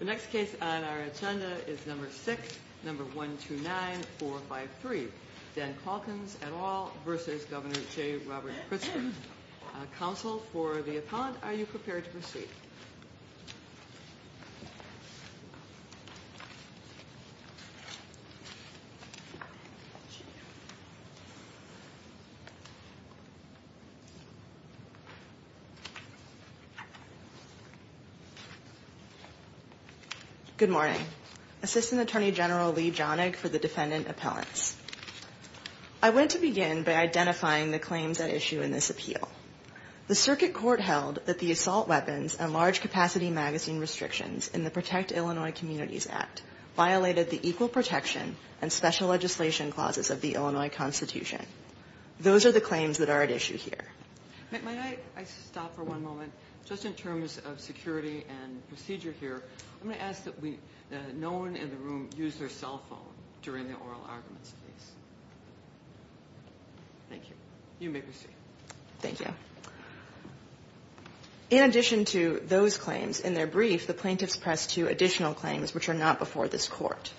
The next case on our agenda is number 6, number 129453, Dan Caulkins et al. v. Governor J. Robert Pritzker. Counsel for the appellant, are you prepared to proceed? Good morning. Assistant Attorney General Lee Jonig for the Defendant Appellants. I want to begin by identifying the claims at issue in this appeal. The circuit court held that the assault weapons and large capacity magazine restrictions in the Protect Illinois Communities Act violated the equal protection and special legislation clauses of the Illinois Constitution. Those are the claims that are at issue here. May I stop for one moment? Just in terms of security and procedure here, I'm going to ask that no one in the room use their cell phone during the oral arguments, please. Thank you. You may proceed. Thank you. In addition to those claims, in their brief, the plaintiffs pressed two additional claims which are not before this Court.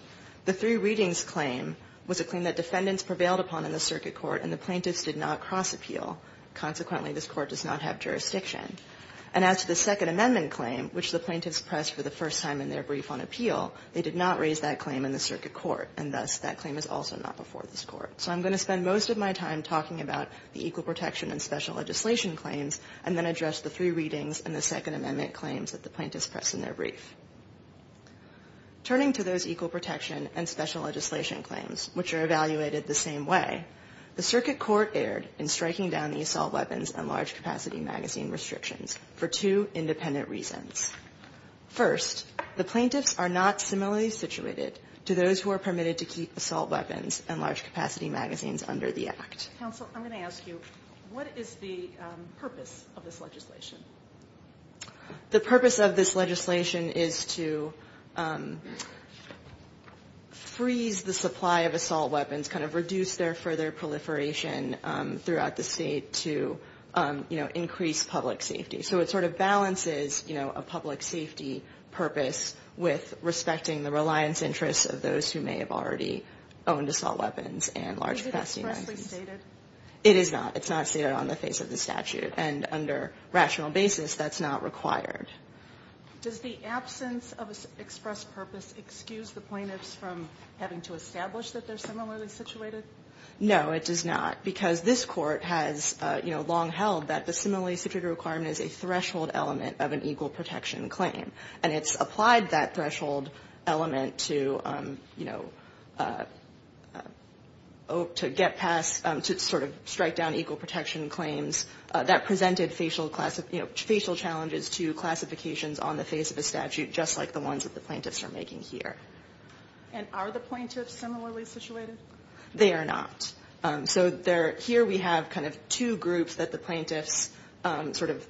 The three readings claim was a claim that defendants prevailed upon in the circuit court and the plaintiffs did not cross-appeal. Consequently, this Court does not have jurisdiction. And as to the Second Amendment claim, which the plaintiffs pressed for the first time in their brief on appeal, they did not raise that claim in the circuit court. And thus, that claim is also not before this Court. So I'm going to spend most of my time talking about the equal protection and special legislation claims and then address the three readings and the Second Amendment claims that the plaintiffs pressed in their brief. Turning to those equal protection and special legislation claims, which are evaluated the same way, the circuit court erred in striking down the assault weapons and large capacity magazine restrictions for two independent reasons. First, the plaintiffs are not similarly situated to those who are permitted to keep assault weapons and large capacity magazines under the Act. Counsel, I'm going to ask you, what is the purpose of this legislation? The purpose of this legislation is to freeze the supply of assault weapons, kind of reduce their further proliferation throughout the state to, you know, increase public safety. So it sort of balances, you know, a public safety purpose with respecting the reliance interests of those who may have already owned assault weapons and large capacity magazines. Is it expressly stated? It is not. It's not stated on the face of the statute. And under rational basis, that's not required. Does the absence of express purpose excuse the plaintiffs from having to establish that they're similarly situated? No, it does not. Because this Court has, you know, long held that the similarly situated requirement is a threshold element of an equal protection claim. And it's applied that threshold element to, you know, to get past, to sort of strike down equal protection claims. That presented facial challenges to classifications on the face of the statute, just like the ones that the plaintiffs are making here. And are the plaintiffs similarly situated? They are not. So here we have kind of two groups that the plaintiffs sort of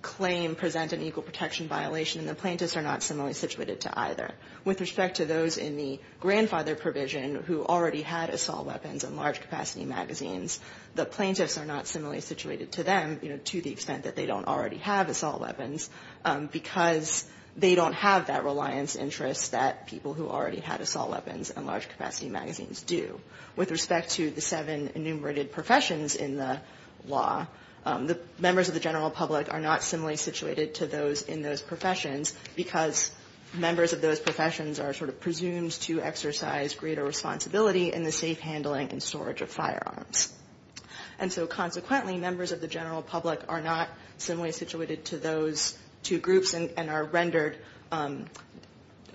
claim present an equal protection violation. And the plaintiffs are not similarly situated to either. With respect to those in the grandfather provision who already had assault weapons and large capacity magazines, the plaintiffs are not similarly situated to them, you know, to the extent that they don't already have assault weapons, because they don't have that reliance interest that people who already had assault weapons and large capacity magazines do. With respect to the seven enumerated professions in the law, the members of the general public are not similarly situated to those in those professions because members of those professions are sort of presumed to exercise greater responsibility in the safe handling and storage of firearms. And so consequently, members of the general public are not similarly situated to those two groups and are rendered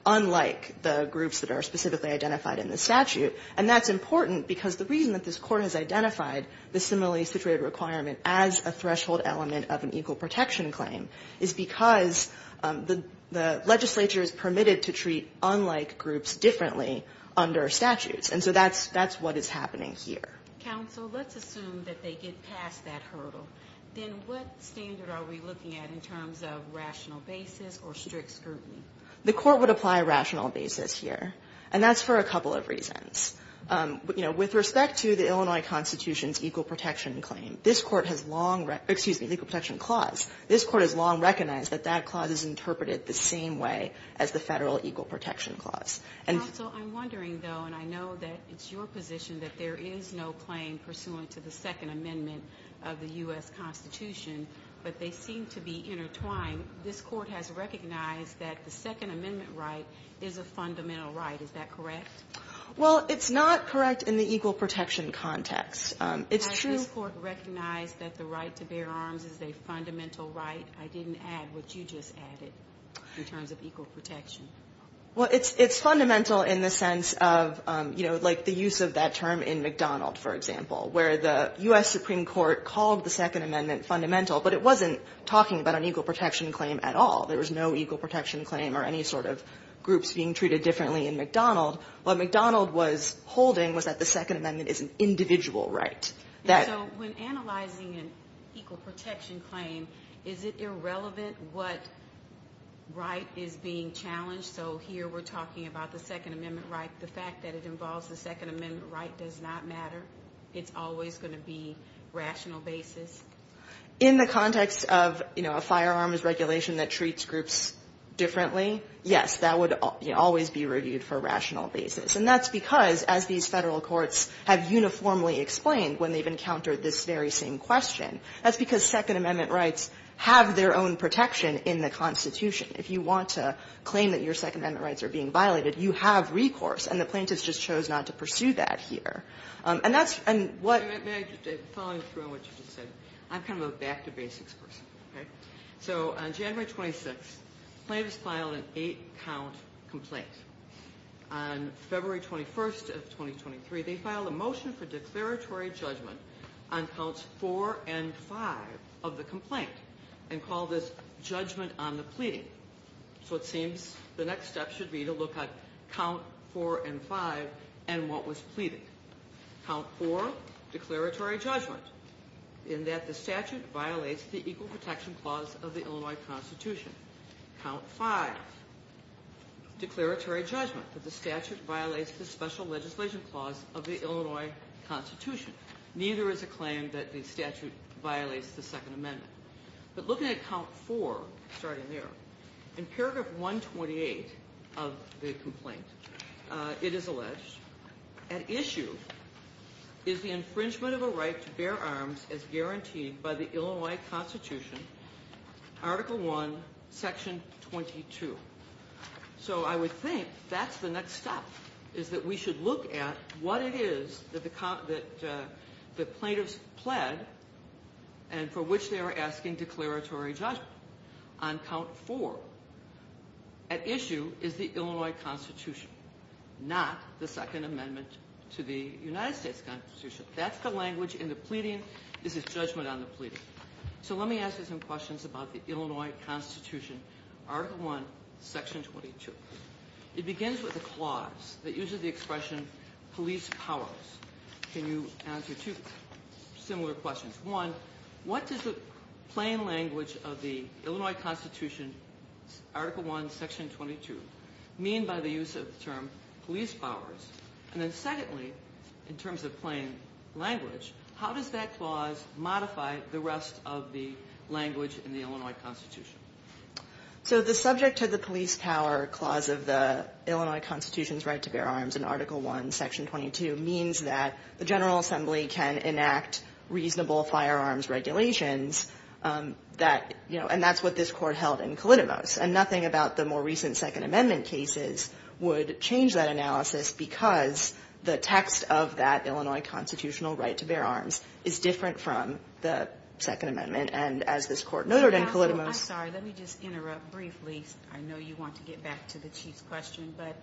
unlike the groups that are specifically identified in the statute. And that's important because the reason that this Court has identified the similarly situated requirement as a threshold element of an equal protection claim is because the legislature is permitted to treat unlike groups differently under statutes. And so that's what is happening here. Counsel, let's assume that they get past that hurdle. Then what standard are we looking at in terms of rational basis or strict scrutiny? The Court would apply rational basis here. And that's for a couple of reasons. You know, with respect to the Illinois Constitution's equal protection claim, this Court has long recognized that that clause is interpreted the same way as the federal equal protection clause. Counsel, I'm wondering, though, and I know that it's your position that there is no claim pursuant to the Second Amendment of the U.S. Constitution, but they seem to be intertwined. This Court has recognized that the Second Amendment right is a fundamental right. Is that correct? Well, it's not correct in the equal protection context. It's true. This Court recognized that the right to bear arms is a fundamental right. I didn't add what you just added in terms of equal protection. Well, it's fundamental in the sense of, you know, like the use of that term in McDonald, for example, where the U.S. Supreme Court called the Second Amendment fundamental, but it wasn't talking about an equal protection claim at all. There was no equal protection claim or any sort of groups being treated differently in McDonald. What McDonald was holding was that the Second Amendment is an individual right. So when analyzing an equal protection claim, is it irrelevant what right is being challenged? So here we're talking about the Second Amendment right. The fact that it involves the Second Amendment right does not matter. It's always going to be rational basis. In the context of, you know, a firearms regulation that treats groups differently, yes, that would always be reviewed for a rational basis. And that's because, as these Federal courts have uniformly explained when they've encountered this very same question, that's because Second Amendment rights have their own protection in the Constitution. If you want to claim that your Second Amendment rights are being violated, you have recourse, and the plaintiffs just chose not to pursue that here. May I follow through on what you just said? I'm kind of a back-to-basics person. So on January 26th, plaintiffs filed an eight-count complaint. On February 21st of 2023, they filed a motion for declaratory judgment on counts four and five of the complaint and called this judgment on the pleading. So it seems the next step should be to look at count four and five and what was pleaded. Count four, declaratory judgment in that the statute violates the Equal Protection Clause of the Illinois Constitution. Count five, declaratory judgment that the statute violates the Special Legislation Clause of the Illinois Constitution. Neither is a claim that the statute violates the Second Amendment. But looking at count four, starting there, in paragraph 128 of the complaint, it is alleged, at issue is the infringement of a right to bear arms as guaranteed by the Illinois Constitution, Article I, Section 22. So I would think that's the next step, is that we should look at what it is that the plaintiffs pled and for which they are asking declaratory judgment. On count four, at issue is the Illinois Constitution, not the Second Amendment to the United States Constitution. That's the language in the pleading. This is judgment on the pleading. So let me ask you some questions about the Illinois Constitution, Article I, Section 22. It begins with a clause that uses the expression police powers. Can you answer two similar questions? One, what does the plain language of the Illinois Constitution, Article I, Section 22, mean by the use of the term police powers? And then secondly, in terms of plain language, how does that clause modify the rest of the language in the Illinois Constitution? So the subject of the police power clause of the Illinois Constitution's right to bear firearms in Article I, Section 22, means that the General Assembly can enact reasonable firearms regulations. And that's what this Court held in Kalidomos. And nothing about the more recent Second Amendment cases would change that analysis because the text of that Illinois Constitutional right to bear arms is different from the Second Amendment. And as this Court noted in Kalidomos... I'm sorry. Let me just interrupt briefly. I know you want to get back to the Chief's question. But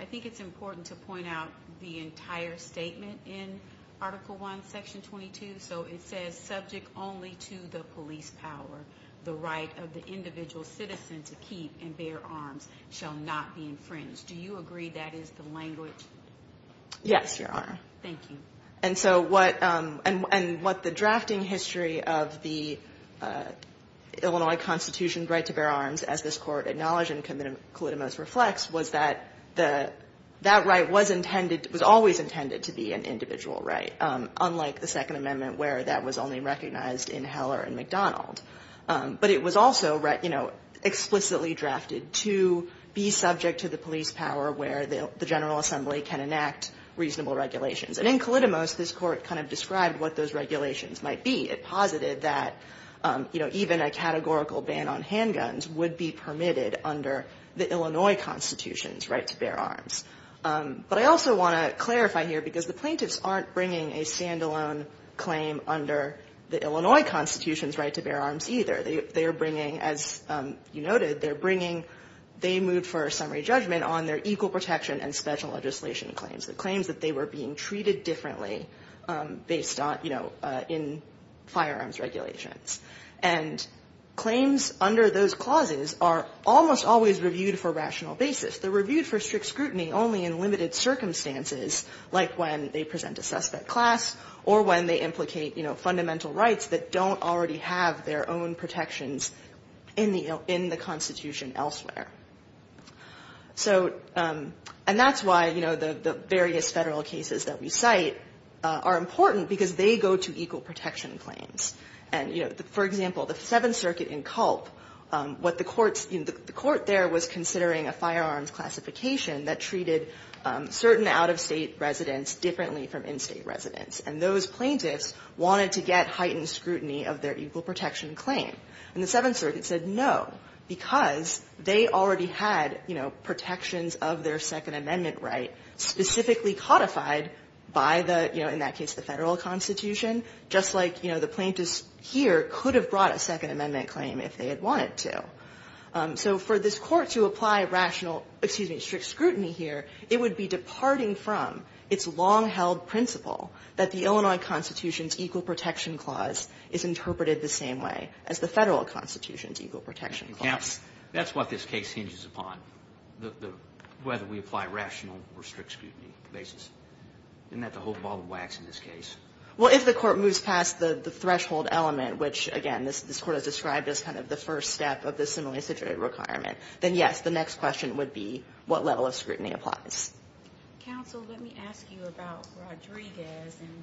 I think it's important to point out the entire statement in Article I, Section 22. So it says, subject only to the police power, the right of the individual citizen to keep and bear arms shall not be infringed. Do you agree that is the language? Yes, Your Honor. Thank you. And so what the drafting history of the Illinois Constitution right to bear arms, as this Court acknowledged and Kalidomos reflects, was that that right was always intended to be an individual right, unlike the Second Amendment where that was only recognized in Heller and McDonald. But it was also explicitly drafted to be subject to the police power where the General Assembly can enact reasonable regulations. And in Kalidomos, this Court kind of described what those regulations might be. It posited that, you know, even a categorical ban on handguns would be permitted under the Illinois Constitution's right to bear arms. But I also want to clarify here because the plaintiffs aren't bringing a stand-alone claim under the Illinois Constitution's right to bear arms either. They are bringing, as you noted, they're bringing they moved for a summary judgment on their equal protection and special legislation claims, the claims that they were being firearms regulations. And claims under those clauses are almost always reviewed for rational basis. They're reviewed for strict scrutiny only in limited circumstances, like when they present a suspect class or when they implicate, you know, fundamental rights that don't already have their own protections in the Constitution elsewhere. So and that's why, you know, the various Federal cases that we cite are important because they go to equal protection claims. And, you know, for example, the Seventh Circuit in Culp, what the courts in the court there was considering a firearms classification that treated certain out-of-state residents differently from in-state residents. And those plaintiffs wanted to get heightened scrutiny of their equal protection claim. And the Seventh Circuit said no, because they already had, you know, protections of their Second Amendment right specifically codified by the, you know, in that case the Federal Constitution, just like, you know, the plaintiffs here could have brought a Second Amendment claim if they had wanted to. So for this Court to apply rational, excuse me, strict scrutiny here, it would be departing from its long-held principle that the Illinois Constitution's equal protection clause is interpreted the same way as the Federal Constitution's equal protection clause. Roberts. That's what this case hinges upon, whether we apply rational or strict scrutiny basis. Isn't that the whole ball of wax in this case? Well, if the Court moves past the threshold element, which, again, this Court has described as kind of the first step of the similitude requirement, then, yes, the next question would be what level of scrutiny applies. Counsel, let me ask you about Rodriguez, and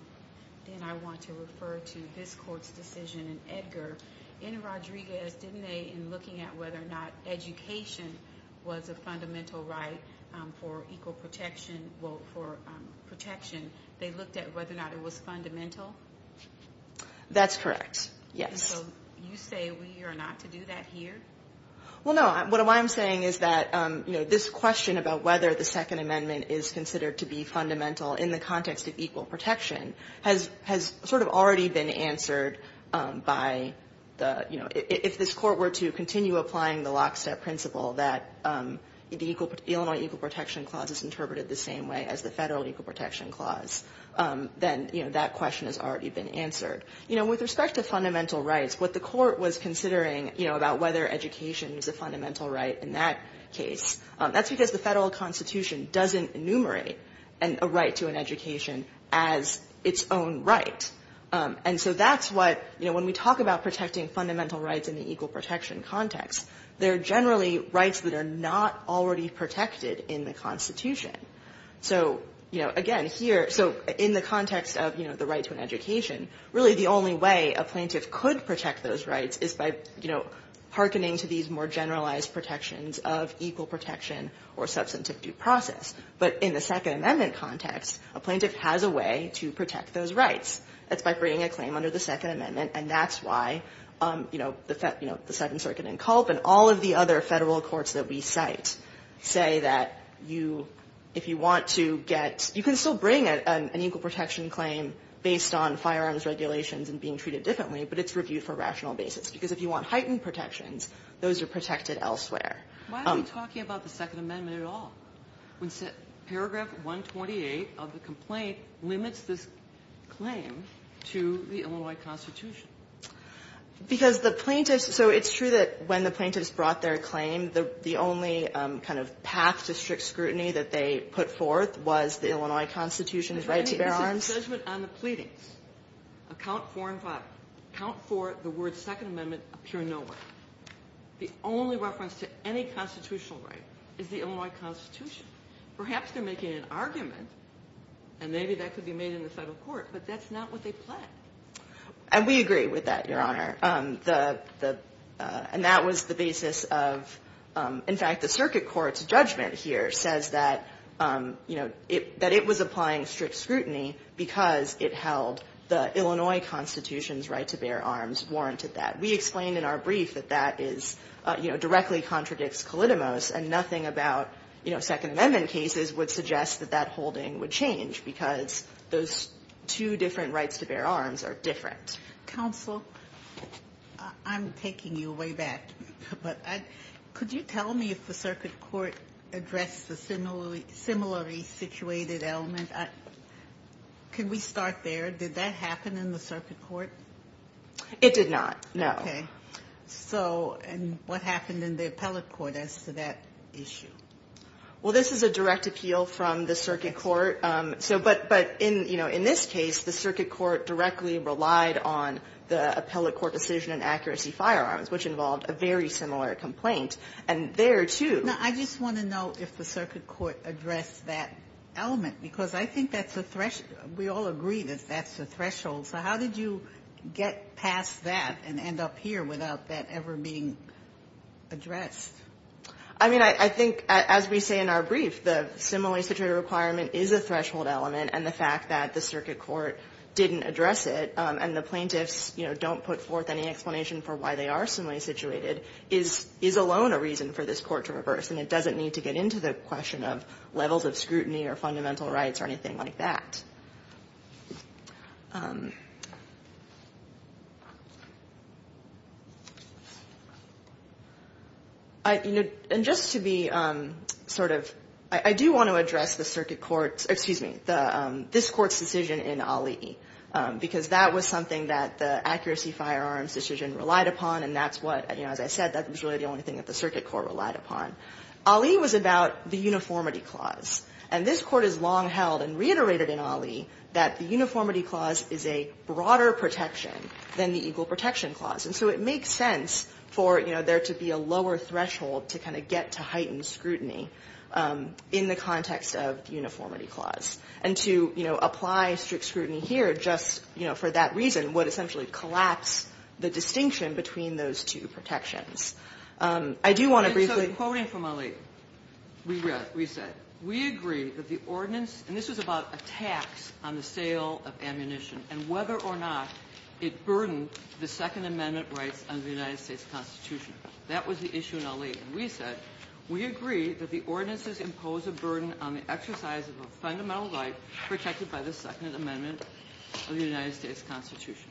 then I want to refer to this Court's decision in Edgar. In Rodriguez, didn't they, in looking at whether or not education was a fundamental right for equal protection, well, for protection, they looked at whether or not it was fundamental? That's correct, yes. And so you say we are not to do that here? Well, no, what I'm saying is that, you know, this question about whether the Second Amendment is considered to be fundamental in the context of equal protection has sort of already been answered by the, you know, if this Court were to continue applying the lockstep principle that the Illinois Equal Protection Clause is interpreted the same way as the Federal Equal Protection Clause, then, you know, that question has already been answered. You know, with respect to fundamental rights, what the Court was considering, you know, about whether education is a fundamental right in that case, that's because the Federal Constitution doesn't enumerate a right to an education as its own right. And so that's what, you know, when we talk about protecting fundamental rights in the Federal Equal Protection context, they're generally rights that are not already protected in the Constitution. So, you know, again, here, so in the context of, you know, the right to an education, really the only way a plaintiff could protect those rights is by, you know, hearkening to these more generalized protections of equal protection or substantive due process. But in the Second Amendment context, a plaintiff has a way to protect those rights. That's by bringing a claim under the Second Amendment. And that's why, you know, the Second Circuit in Culp and all of the other Federal courts that we cite say that you, if you want to get, you can still bring an equal protection claim based on firearms regulations and being treated differently, but it's reviewed for rational basis. Because if you want heightened protections, those are protected elsewhere. Why are we talking about the Second Amendment at all when Paragraph 128 of the complaint limits this claim to the Illinois Constitution? Because the plaintiffs, so it's true that when the plaintiffs brought their claim, the only kind of path to strict scrutiny that they put forth was the Illinois Constitution's right to bear arms. It's a judgment on the pleadings of Count 4 and 5. Count 4, the words Second Amendment, appear nowhere. The only reference to any constitutional right is the Illinois Constitution. Perhaps they're making an argument, and maybe that could be made in the Federal court, but that's not what they pledged. And we agree with that, Your Honor. And that was the basis of, in fact, the Circuit Court's judgment here says that, you know, that it was applying strict scrutiny because it held the Illinois Constitution's right to bear arms warranted that. We explained in our brief that that is, you know, directly contradicts Kalidomos, and nothing about, you know, Second Amendment cases would suggest that that holding would change because those two different rights to bear arms are different. Counsel, I'm taking you way back, but could you tell me if the Circuit Court addressed the similarly situated element? Can we start there? Did that happen in the Circuit Court? It did not, no. Okay. So, and what happened in the Appellate Court as to that issue? Well, this is a direct appeal from the Circuit Court. So, but in, you know, in this case, the Circuit Court directly relied on the Appellate Court decision on accuracy firearms, which involved a very similar complaint. And there, too. Now, I just want to know if the Circuit Court addressed that element, because I think that's a threshold. We all agree that that's a threshold. So how did you get past that and end up here without that ever being addressed? I mean, I think, as we say in our brief, the similarly situated requirement is a threshold element. And the fact that the Circuit Court didn't address it, and the plaintiffs, you know, don't put forth any explanation for why they are similarly situated, is alone a reason for this Court to reverse. And it doesn't need to get into the question of levels of scrutiny or fundamental rights or anything like that. I, you know, and just to be sort of, I do want to address the Circuit Court's excuse me, this Court's decision in Ali, because that was something that the accuracy firearms decision relied upon, and that's what, you know, as I said, that was really the only thing that the Circuit Court relied upon. Ali was about the uniformity clause. And this Court has long held and reiterated in Ali that the uniformity clause is a broader protection than the equal protection clause. And so it makes sense for, you know, there to be a lower threshold to kind of get to heightened scrutiny in the context of the uniformity clause. And to, you know, apply strict scrutiny here just, you know, for that reason would essentially collapse the distinction between those two protections. I do want to briefly ---- But we agree that the ordinance, and this was about a tax on the sale of ammunition, and whether or not it burdened the Second Amendment rights under the United States Constitution. That was the issue in Ali. And we said, we agree that the ordinances impose a burden on the exercise of a fundamental right protected by the Second Amendment of the United States Constitution.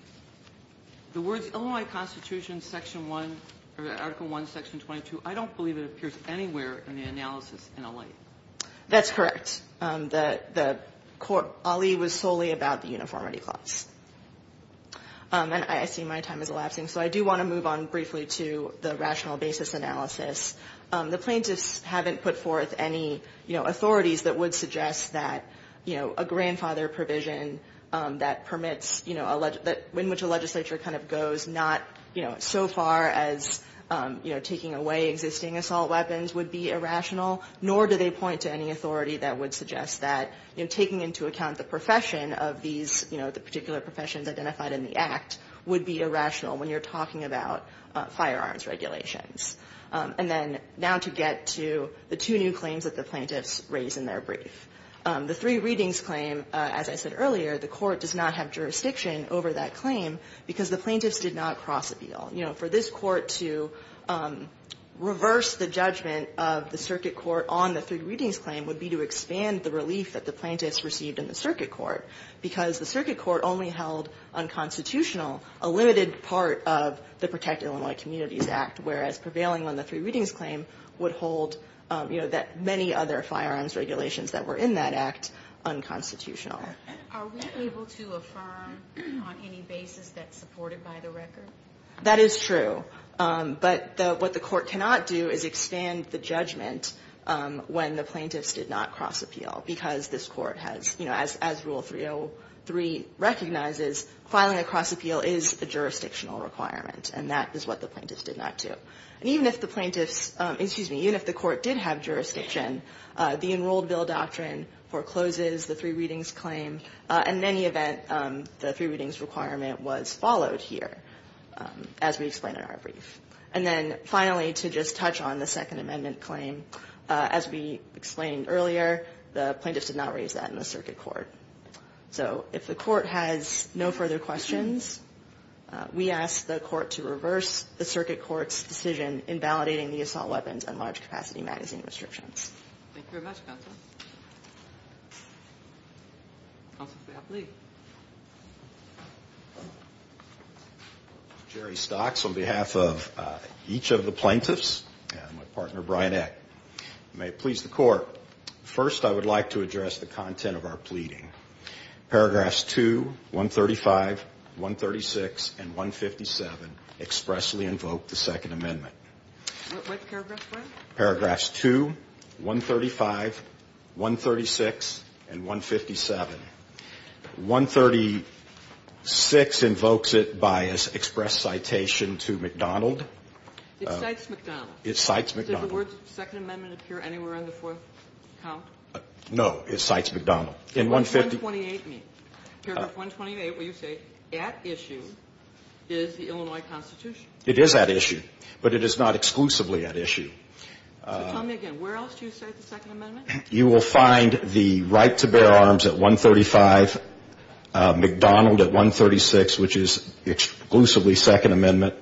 The words Illinois Constitution, Section 1, or Article 1, Section 22, I don't believe it appears anywhere in the analysis in Ali. That's correct. The Court ---- Ali was solely about the uniformity clause. And I see my time is elapsing. So I do want to move on briefly to the rational basis analysis. The plaintiffs haven't put forth any, you know, authorities that would suggest that, you know, a grandfather provision that permits, you know, in which a legislature kind of goes not, you know, so far as, you know, taking away existing assault weapons would be irrational. Nor do they point to any authority that would suggest that, you know, taking into account the profession of these, you know, the particular professions identified in the Act would be irrational when you're talking about firearms regulations. And then now to get to the two new claims that the plaintiffs raised in their brief. The three readings claim, as I said earlier, the Court does not have jurisdiction over that claim because the plaintiffs did not cross appeal. You know, for this Court to reverse the judgment of the Circuit Court on the three readings claim would be to expand the relief that the plaintiffs received in the Circuit Court because the Circuit Court only held unconstitutional a limited part of the Protect Illinois Communities Act, whereas prevailing on the three readings claim would hold, you know, that many other firearms regulations that were in that Act unconstitutional. Are we able to affirm on any basis that's supported by the record? That is true. But what the Court cannot do is expand the judgment when the plaintiffs did not cross appeal because this Court has, you know, as Rule 303 recognizes, filing a cross appeal is a jurisdictional requirement. And that is what the plaintiffs did not do. And even if the plaintiffs, excuse me, even if the Court did have jurisdiction, the Enrolled Bill Doctrine forecloses the three readings claim. In any event, the three readings requirement was followed here, as we explained in our brief. And then finally, to just touch on the Second Amendment claim, as we explained earlier, the plaintiffs did not raise that in the Circuit Court. So if the Court has no further questions, we ask the Court to reverse the Circuit Court's decision in validating the Assault Weapons and Large Capacity Magazine restrictions. Thank you very much, Counsel. Counsel, if you have a plea. Jerry Stocks on behalf of each of the plaintiffs and my partner, Brian Eck. May it please the Court. First, I would like to address the content of our pleading. Paragraphs 2, 135, 136, and 157 expressly invoke the Second Amendment. What paragraph, Brian? Paragraphs 2, 135, 136, and 157. 136 invokes it by express citation to McDonald. It cites McDonald. It cites McDonald. Does the word Second Amendment appear anywhere on the fourth count? No. It cites McDonald. What does 128 mean? Paragraph 128 where you say at issue is the Illinois Constitution. It is at issue, but it is not exclusively at issue. So tell me again. Where else do you cite the Second Amendment? You will find the right to bear arms at 135, McDonald at 136, which is exclusively Second Amendment,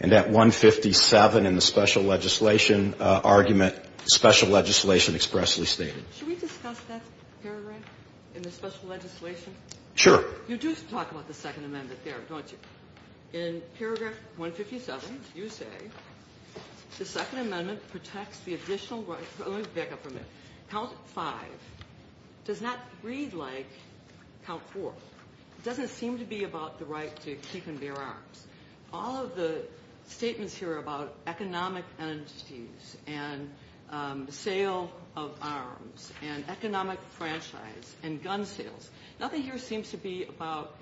and at 157 in the special legislation argument, special legislation expressly stated. Should we discuss that paragraph in the special legislation? Sure. You do talk about the Second Amendment there, don't you? In paragraph 157, you say the Second Amendment protects the additional right to only back up from it. Count 5 does not read like count 4. It doesn't seem to be about the right to keep and bear arms. All of the statements here about economic entities and sale of arms and economic franchise and gun sales, nothing here seems to be about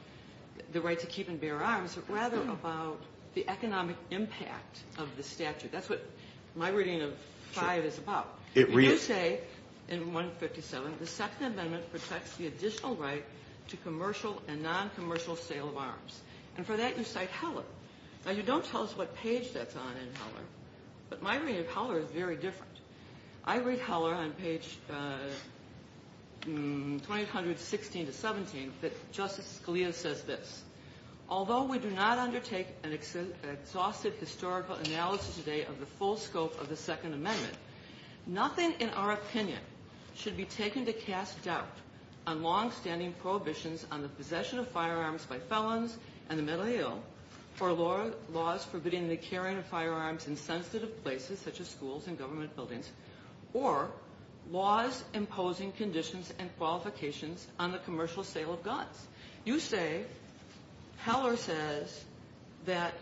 the right to keep and bear arms, but rather about the economic impact of the statute. That's what my reading of 5 is about. You say in 157 the Second Amendment protects the additional right to commercial and noncommercial sale of arms. And for that, you cite Heller. Now, you don't tell us what page that's on in Heller, but my reading of Heller is very different. I read Heller on page 2100, 16 to 17, that Justice Scalia says this. Although we do not undertake an exhaustive historical analysis today of the full scope of the Second Amendment, nothing in our opinion should be taken to cast doubt on longstanding prohibitions on the possession of firearms by felons and the mentally ill, for laws forbidding the carrying of firearms in sensitive places such as schools and government buildings, or laws imposing conditions and qualifications on the commercial sale of guns. You say Heller says that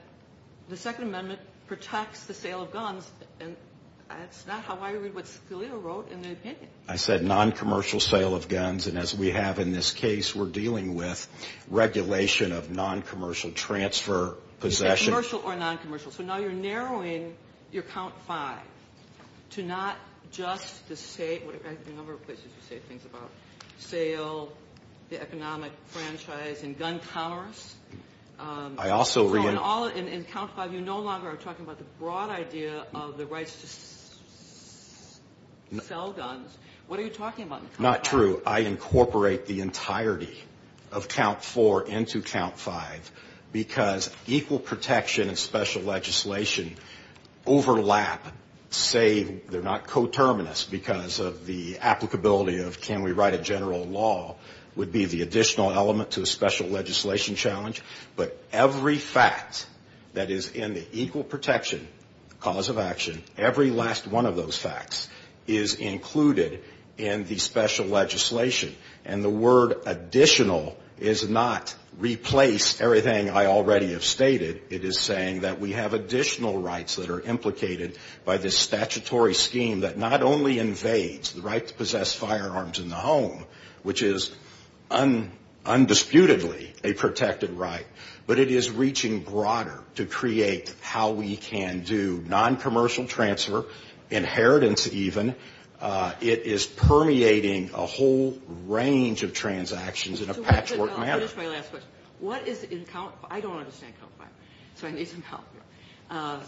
the Second Amendment protects the sale of guns, and that's not how I read what Scalia wrote in the opinion. I said noncommercial sale of guns. And as we have in this case, we're dealing with regulation of noncommercial transfer, possession. You said commercial or noncommercial. So now you're narrowing your count five to not just the state. I have a number of places to say things about sale, the economic franchise, and gun powers. I also re- In count five, you no longer are talking about the broad idea of the rights to sell guns. What are you talking about in count five? Not true. I incorporate the entirety of count four into count five because equal protection and special legislation overlap, save they're not coterminous because of the applicability of can we write a general law would be the additional element to a special legislation challenge. But every fact that is in the equal protection cause of action, every last one of those facts is included in the special legislation. And the word additional is not replace everything I already have stated. It is saying that we have additional rights that are implicated by this statutory scheme that not only invades the right to possess firearms in the home, which is undisputedly a protected right, but it is reaching broader to create how we can do noncommercial transfer, inheritance even. It is permeating a whole range of transactions in a patchwork manner. I'll finish my last question. What is in count five? I don't understand count five. So I need some help here.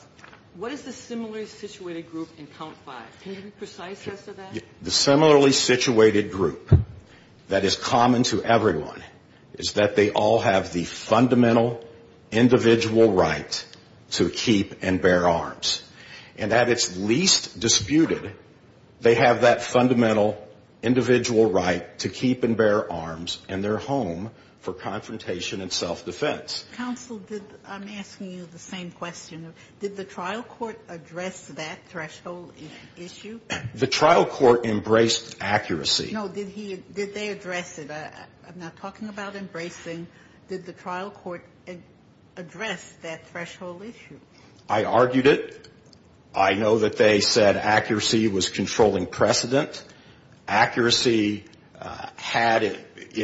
What is the similarly situated group in count five? Can you be precise as to that? The similarly situated group that is common to everyone is that they all have the fundamental individual right to keep and bear arms. And at its least disputed, they have that fundamental individual right to keep and bear arms in their home for confrontation and self-defense. Counsel, I'm asking you the same question. Did the trial court address that threshold issue? The trial court embraced accuracy. No, did they address it? I'm not talking about embracing. Did the trial court address that threshold issue? I argued it. I know that they said accuracy was controlling precedent. Accuracy had it.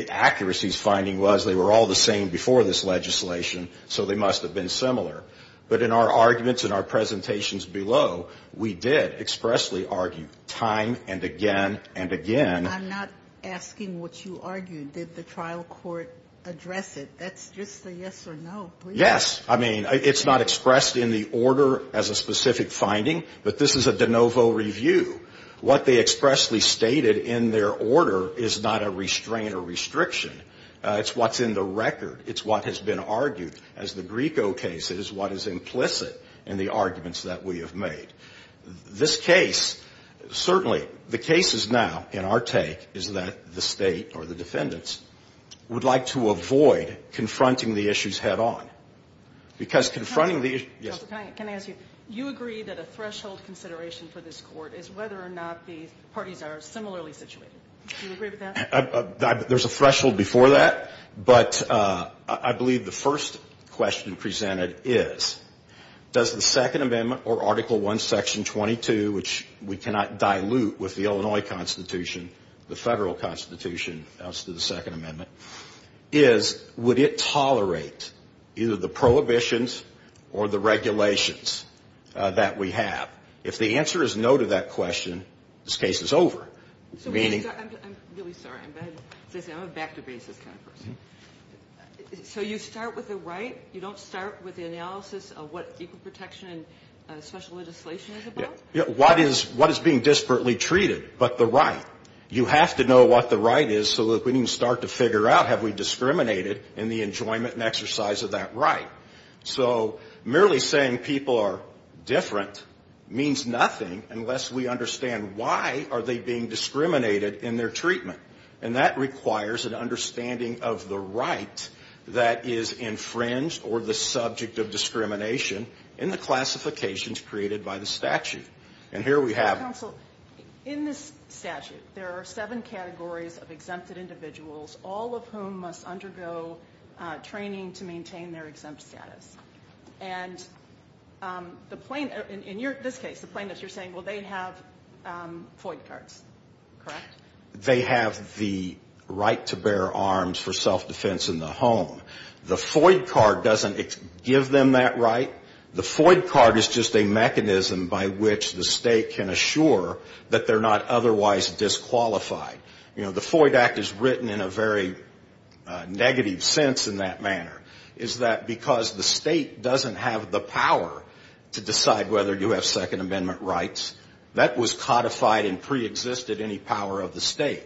Accuracy's finding was they were all the same before this legislation, so they must have been similar. But in our arguments and our presentations below, we did expressly argue time and again and again. I'm not asking what you argued. Did the trial court address it? That's just a yes or no, please. Yes. I mean, it's not expressed in the order as a specific finding, but this is a de novo review. What they expressly stated in their order is not a restraint or restriction. It's what's in the record. It's what has been argued. As the Grieco case, it is what is implicit in the arguments that we have made. This case, certainly, the case is now in our take is that the state or the defendants would like to avoid confronting the issues head-on. Because confronting the issues. Counselor, can I ask you, you agree that a threshold consideration for this court is whether or not the parties are similarly situated. Do you agree with that? There's a threshold before that, but I believe the first question presented is, does the Second Amendment or Article I, Section 22, which we cannot dilute with the Illinois Constitution, the federal constitution as to the Second Amendment, is would it tolerate either the prohibitions or the regulations that we have? If the answer is no to that question, this case is over. I'm really sorry. I'm a back-to-basis kind of person. So you start with the right? You don't start with the analysis of what equal protection and special legislation is about? What is being disparately treated but the right? You have to know what the right is so that we can start to figure out, have we discriminated in the enjoyment and exercise of that right? So merely saying people are different means nothing unless we understand why are they being discriminated in their treatment. And that requires an understanding of the right that is infringed or the subject of discrimination in the classifications created by the statute. And here we have it. Counsel, in this statute, there are seven categories of exempted individuals, all of whom must undergo training to maintain their exempt status. And in this case, the plaintiffs, you're saying, well, they have FOID cards, correct? They have the right to bear arms for self-defense in the home. The FOID card doesn't give them that right. The FOID card is just a mechanism by which the state can assure that they're not otherwise disqualified. You know, the FOID Act is written in a very negative sense in that manner, is that because the state doesn't have the power to decide whether you have Second Amendment rights, that was codified and preexisted any power of the state.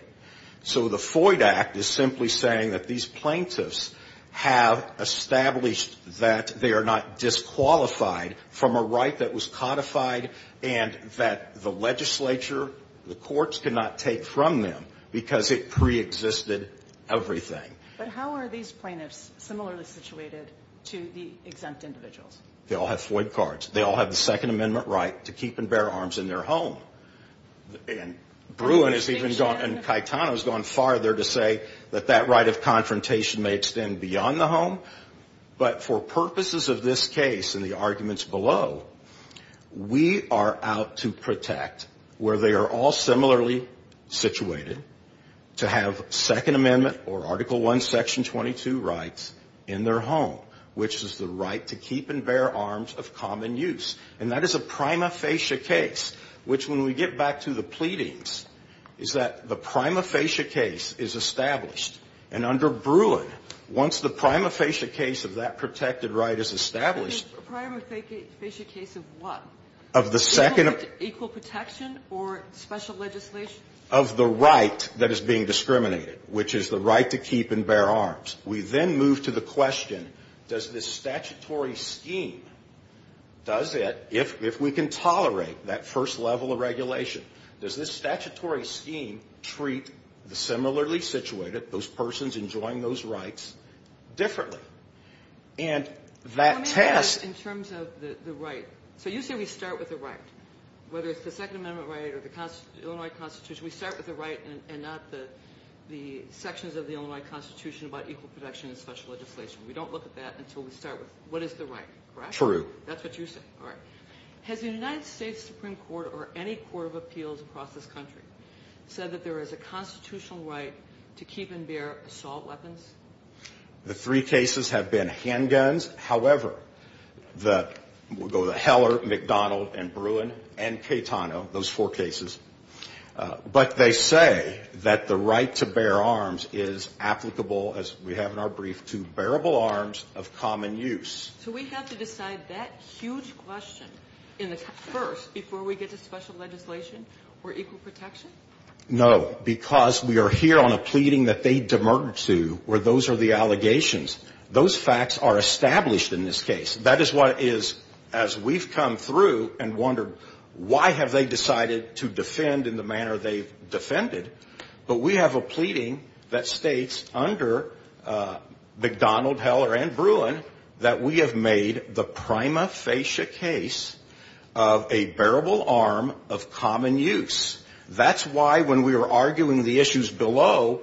So the FOID Act is simply saying that these plaintiffs have established that they are not disqualified from a right that was codified and that the legislature, the courts, cannot take from them because it preexisted everything. But how are these plaintiffs similarly situated to the exempt individuals? They all have FOID cards. They all have the Second Amendment right to keep and bear arms in their home. And Bruin has even gone, and Caetano has gone farther to say that that right of confrontation may extend beyond the home. But for purposes of this case and the arguments below, we are out to protect where they are all similarly situated to have Second Amendment or Article I, Section 22 rights in their home, which is the right to keep and bear arms of common use. And that is a prima facie case, which, when we get back to the pleadings, is that the prima facie case is established. And under Bruin, once the prima facie case of that protected right is established A prima facie case of what? Of the second Equal protection or special legislation? Of the right that is being discriminated, which is the right to keep and bear arms. We then move to the question, does this statutory scheme, does it, if we can tolerate that first level of regulation, does this statutory scheme treat the similarly situated, those persons enjoying those rights, differently? And that test In terms of the right. So you say we start with the right. Whether it's the Second Amendment right or the Illinois Constitution, we start with the right and not the sections of the Illinois Constitution about equal protection and special legislation. We don't look at that until we start with what is the right, correct? True. That's what you say. All right. Has the United States Supreme Court or any court of appeals across this country said that there is a constitutional right to keep and bear assault weapons? The three cases have been handguns. However, we'll go to Heller, McDonald, and Bruin, and Caetano, those four cases. But they say that the right to bear arms is applicable, as we have in our brief, to bearable arms of common use. So we have to decide that huge question first before we get to special legislation or equal protection? No, because we are here on a pleading that they demerge to where those are the allegations. Those facts are established in this case. That is what is, as we've come through and wondered, why have they decided to defend in the manner they've defended? But we have a pleading that states under McDonald, Heller, and Bruin, that we have made the prima facie case of a bearable arm of common use. That's why when we were arguing the issues below,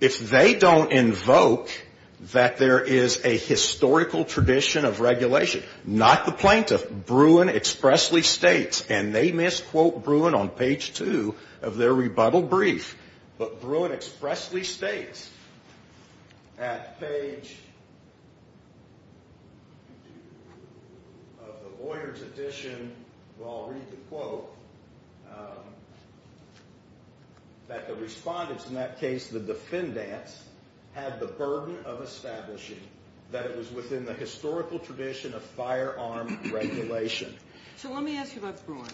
if they don't invoke that there is a historical tradition of regulation, not the plaintiff, Bruin expressly states, and they misquote Bruin on page 2 of their rebuttal brief, but Bruin expressly states at page of the lawyer's edition, where I'll read the quote, that the respondents in that case, the defendants, had the burden of establishing that it was within the historical tradition of firearm regulation. So let me ask you about Bruin,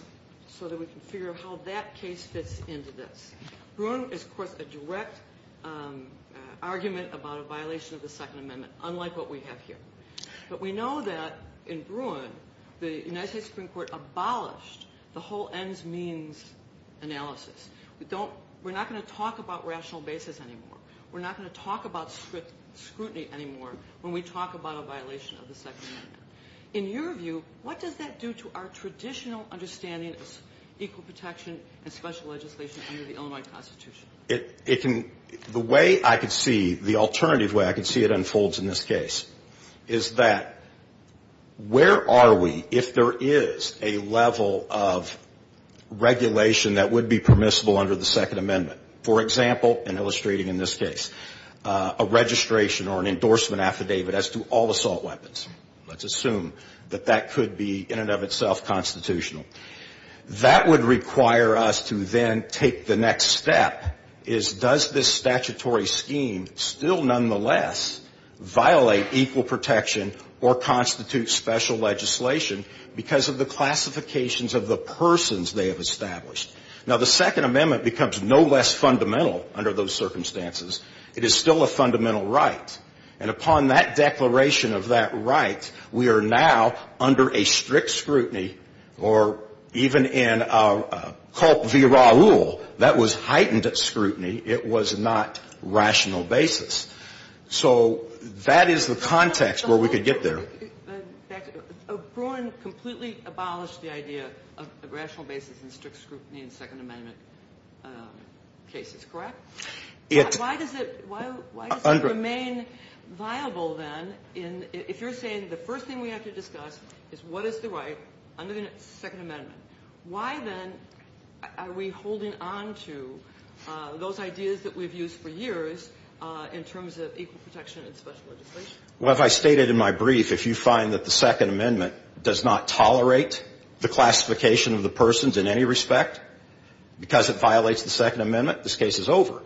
so that we can figure out how that case fits into this. Bruin is, of course, a direct argument about a violation of the Second Amendment, unlike what we have here. But we know that in Bruin, the United States Supreme Court abolished the whole ends-means analysis. We're not going to talk about rational basis anymore. We're not going to talk about scrutiny anymore when we talk about a violation of the Second Amendment. In your view, what does that do to our traditional understanding of equal protection and special legislation under the Illinois Constitution? The way I can see, the alternative way I can see it unfolds in this case, is that where are we if there is a level of regulation that would be permissible under the Second Amendment? For example, and illustrating in this case, a registration or an endorsement affidavit as to all assault weapons. Let's assume that that could be, in and of itself, constitutional. That would require us to then take the next step, is does this statutory scheme still nonetheless violate equal protection or constitute special legislation because of the classifications of the persons they have established? Now, the Second Amendment becomes no less fundamental under those circumstances. It is still a fundamental right. And upon that declaration of that right, we are now under a strict scrutiny, or even in our Culp v. Raul, that was heightened scrutiny. It was not rational basis. So that is the context where we could get there. But, in fact, O'Brien completely abolished the idea of a rational basis and strict scrutiny in Second Amendment cases. Correct? Why does it remain viable, then, if you're saying the first thing we have to discuss is what is the right under the Second Amendment? Why, then, are we holding on to those ideas that we've used for years in terms of equal protection and special legislation? Well, as I stated in my brief, if you find that the Second Amendment does not tolerate the classification of the persons in any respect because it violates the Second Amendment, this case is over.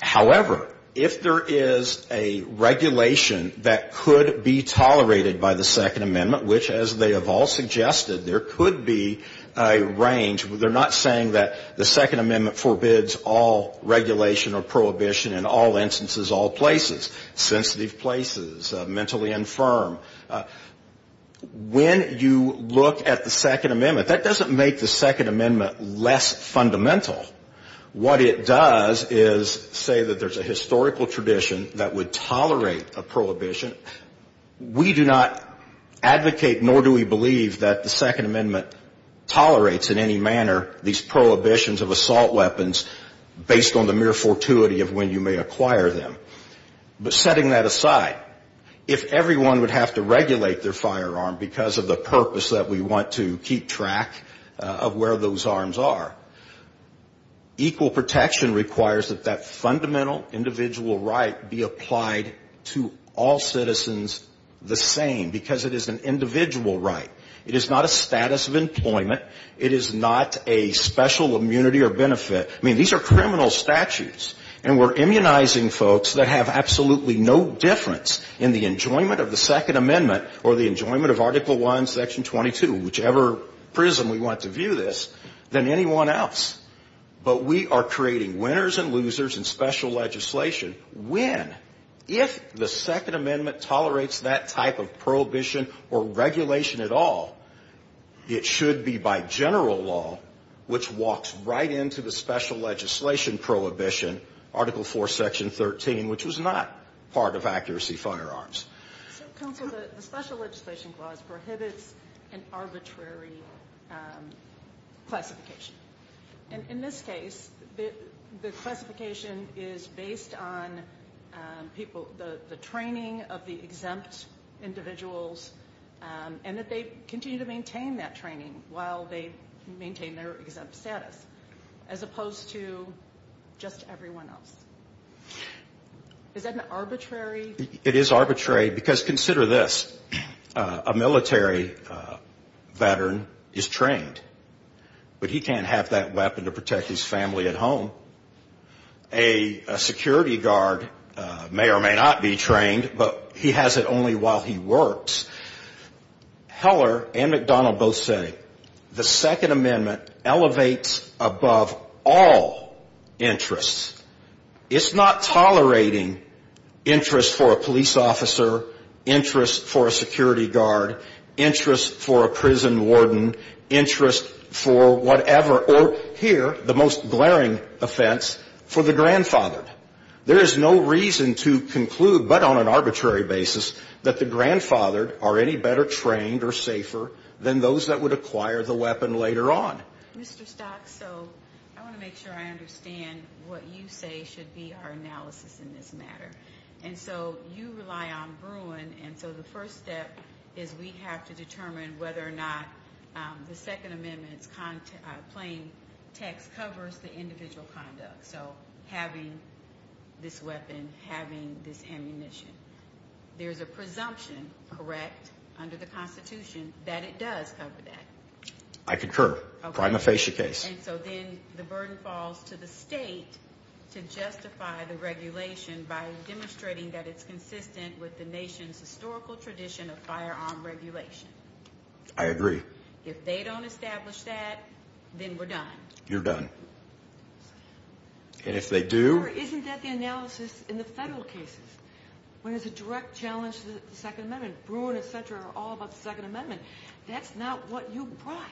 However, if there is a regulation that could be tolerated by the Second Amendment, which, as they have all suggested, there could be a range. They're not saying that the Second Amendment forbids all regulation or prohibition in all instances, all places, sensitive places, mentally infirm. When you look at the Second Amendment, that doesn't make the Second Amendment less fundamental. What it does is say that there's a historical tradition that would tolerate a prohibition. We do not advocate, nor do we believe, that the Second Amendment tolerates in any manner these prohibitions of assault weapons based on the mere fortuity of when you may acquire them. But setting that aside, if everyone would have to regulate their firearm because of the purpose that we want to keep track of where those arms are. Equal protection requires that that fundamental individual right be applied to all citizens the same, because it is an individual right. It is not a status of employment. It is not a special immunity or benefit. I mean, these are criminal statutes. And we're immunizing folks that have absolutely no difference in the enjoyment of the Section 22, whichever prism we want to view this, than anyone else. But we are creating winners and losers in special legislation when, if the Second Amendment tolerates that type of prohibition or regulation at all, it should be by general law, which walks right into the special legislation prohibition, Article 4, Section 13, which was not part of accuracy firearms. So, counsel, the special legislation clause prohibits an arbitrary classification. And in this case, the classification is based on people, the training of the exempt individuals, and that they continue to maintain that training while they maintain their exempt status, as opposed to just everyone else. Is that an arbitrary? It is arbitrary, because consider this. A military veteran is trained, but he can't have that weapon to protect his family at home. A security guard may or may not be trained, but he has it only while he works. Heller and McDonnell both say the Second Amendment elevates above all interests. It's not tolerating interest for a police officer, interest for a security guard, interest for a prison warden, interest for whatever, or here, the most glaring offense, for the grandfathered. There is no reason to conclude, but on an arbitrary basis, that the grandfathered are any better trained or safer than those that would acquire the weapon later on. Mr. Stocks, so I want to make sure I understand what you say should be our analysis in this matter. And so you rely on Bruin, and so the first step is we have to determine whether or not the Second Amendment's plain text covers the individual conduct, so having this weapon, having this ammunition. There's a presumption, correct, under the Constitution, that it does cover that. I concur. Okay. Prime aphasia case. And so then the burden falls to the state to justify the regulation by demonstrating that it's consistent with the nation's historical tradition of firearm regulation. I agree. If they don't establish that, then we're done. You're done. And if they do... Or isn't that the analysis in the federal cases, when there's a direct challenge to the Second Amendment? Bruin, et cetera, are all about the Second Amendment. That's not what you brought.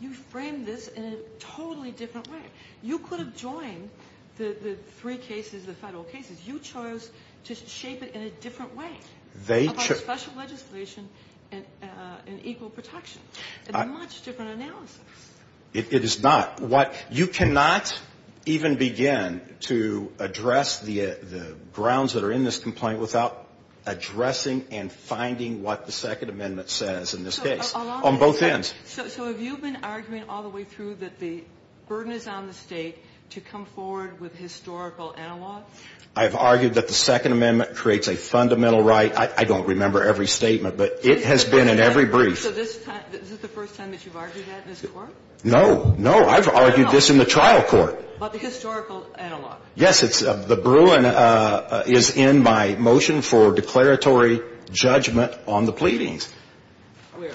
You framed this in a totally different way. You could have joined the three cases, the federal cases. You chose to shape it in a different way, like special legislation and equal protection. It's a much different analysis. It is not. You cannot even begin to address the grounds that are in this complaint without addressing and finding what the Second Amendment says in this case, on both ends. So have you been arguing all the way through that the burden is on the state to come forward with historical analog? I have argued that the Second Amendment creates a fundamental right. I don't remember every statement, but it has been in every brief. So this is the first time that you've argued that in this Court? No, no. I've argued this in the trial court. But the historical analog. Yes, the Bruin is in my motion for declaratory judgment on the pleadings. Where?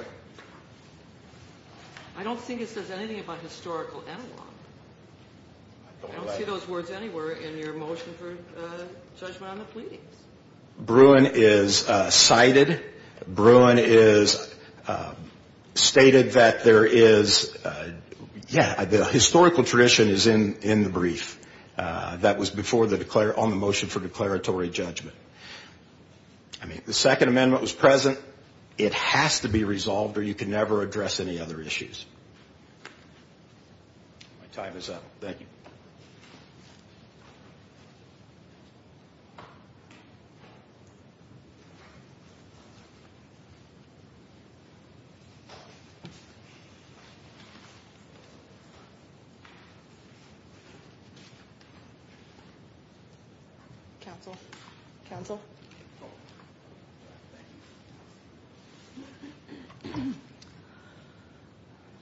I don't think it says anything about historical analog. I don't see those words anywhere in your motion for judgment on the pleadings. Bruin is cited. Bruin is stated that there is, yeah, the historical tradition is in the brief. That was on the motion for declaratory judgment. I mean, the Second Amendment was present. It has to be resolved or you can never address any other issues. My time is up. Thank you. Counsel? Counsel?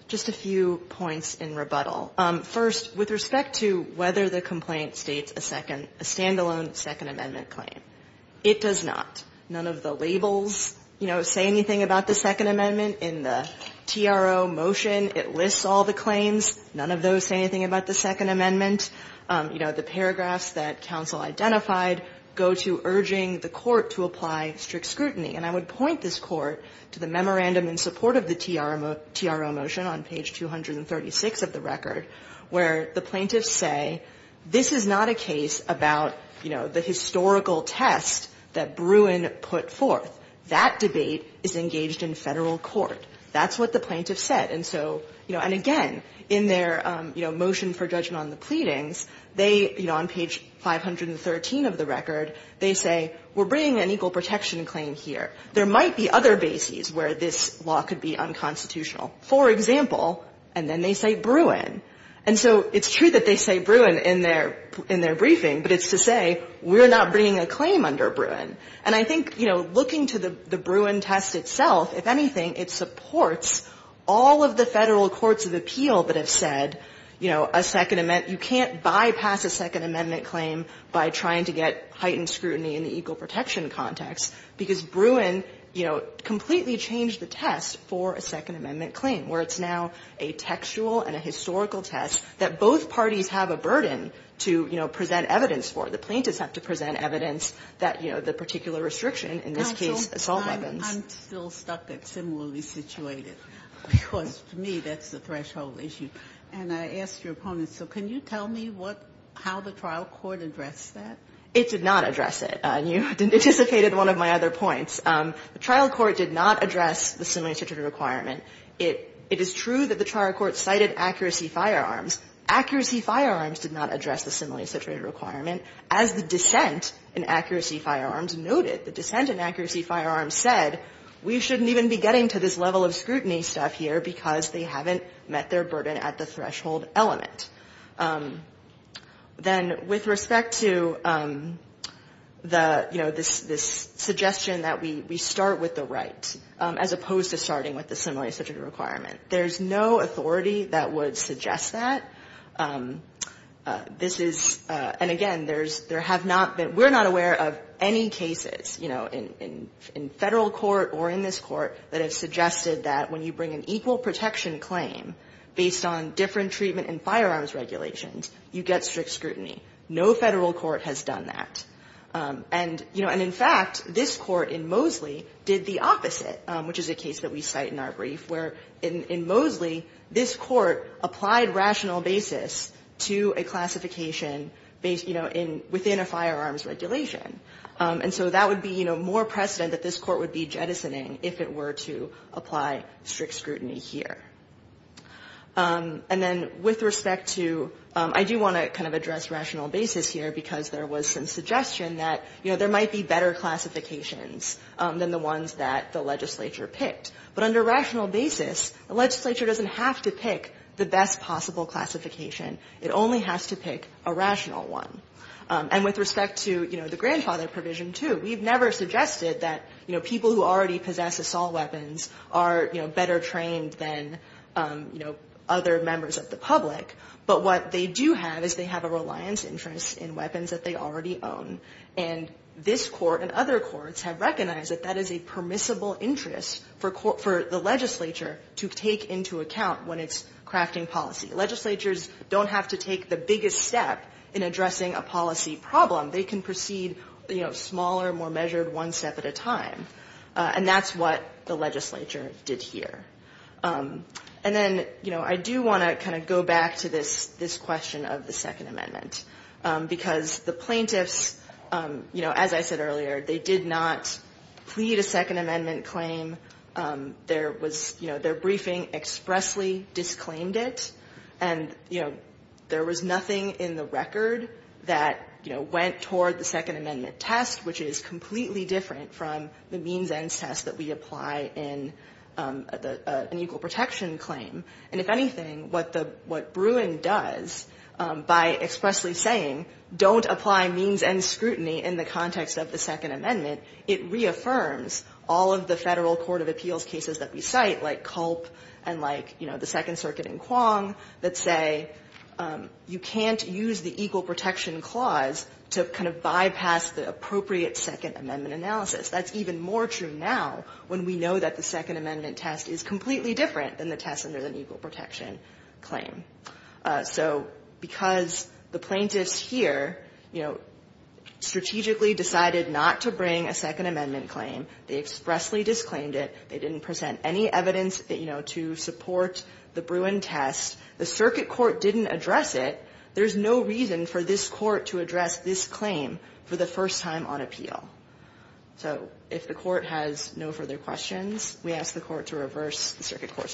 Just a few points in rebuttal. First, with respect to whether the complaint states a standalone Second Amendment claim, it does not. None of the labels, you know, say anything about the Second Amendment. In the TRO motion, it lists all the claims. None of those say anything about the Second Amendment. You know, the paragraphs that counsel identified go to urging the court to apply strict scrutiny. And I would point this Court to the memorandum in support of the TRO motion on page 236 of the record where the plaintiffs say this is not a case about, you know, the historical test that Bruin put forth. That debate is engaged in Federal court. That's what the plaintiffs said. And so, you know, and again, in their, you know, motion for judgment on the pleadings, they, you know, on page 513 of the record, they say we're bringing an equal protection claim here. There might be other bases where this law could be unconstitutional. For example, and then they say Bruin. And so it's true that they say Bruin in their briefing, but it's to say we're not bringing a claim under Bruin. And I think, you know, looking to the Bruin test itself, if anything, it supports all of the Federal courts of appeal that have said, you know, a Second Amendment you can't bypass a Second Amendment claim by trying to get heightened scrutiny in the equal protection context, because Bruin, you know, completely changed the test for a Second Amendment claim, where it's now a textual and a historical test that both parties have a burden to, you know, present evidence for. You know, the plaintiffs have to present evidence that, you know, the particular restriction, in this case, assault weapons. Sotomayor, I'm still stuck at similarly situated, because to me that's the threshold issue. And I asked your opponent, so can you tell me what, how the trial court addressed that? It did not address it, and you anticipated one of my other points. The trial court did not address the similarly situated requirement. It is true that the trial court cited accuracy firearms. Accuracy firearms did not address the similarly situated requirement. As the dissent in accuracy firearms noted, the dissent in accuracy firearms said we shouldn't even be getting to this level of scrutiny stuff here because they haven't met their burden at the threshold element. Then with respect to the, you know, this suggestion that we start with the right as opposed to starting with the similarly situated requirement, there's no authority that would suggest that. This is, and again, there's, there have not been, we're not aware of any cases, you know, in Federal court or in this court that have suggested that when you bring an equal protection claim based on different treatment and firearms regulations, you get strict scrutiny. No Federal court has done that. And, you know, and in fact, this court in Moseley did the opposite, which is a case that we cite in our brief, where in Moseley, this court applied rational basis to a classification based, you know, in, within a firearms regulation. And so that would be, you know, more precedent that this court would be jettisoning if it were to apply strict scrutiny here. And then with respect to, I do want to kind of address rational basis here because there was some suggestion that, you know, there might be better classifications than the ones that the legislature picked. But under rational basis, the legislature doesn't have to pick the best possible classification. It only has to pick a rational one. And with respect to, you know, the grandfather provision, too, we've never suggested that, you know, people who already possess assault weapons are, you know, better trained than, you know, other members of the public, but what they do have is they already own. And this court and other courts have recognized that that is a permissible interest for the legislature to take into account when it's crafting policy. Legislatures don't have to take the biggest step in addressing a policy problem. They can proceed, you know, smaller, more measured, one step at a time. And that's what the legislature did here. And then, you know, I do want to kind of go back to this question of the Second Amendment, because the plaintiffs, you know, as I said earlier, they did not plead a Second Amendment claim. There was, you know, their briefing expressly disclaimed it. And, you know, there was nothing in the record that, you know, went toward the Second Amendment test, which is completely different from the means ends test that we apply in an equal protection claim. And if anything, what the – what Bruin does by expressly saying, don't apply means ends scrutiny in the context of the Second Amendment, it reaffirms all of the Federal Court of Appeals cases that we cite, like Culp and like, you know, the Second Circuit in Quong, that say you can't use the equal protection clause to kind of bypass the appropriate Second Amendment analysis. That's even more true now when we know that the Second Amendment test is completely different than the test under the equal protection claim. So because the plaintiffs here, you know, strategically decided not to bring a Second Amendment claim, they expressly disclaimed it, they didn't present any evidence, you know, to support the Bruin test, the circuit court didn't address it. There's no reason for this court to address this claim for the first time on appeal. So if the court has no further questions, we ask the court to reverse the circuit court's judgment.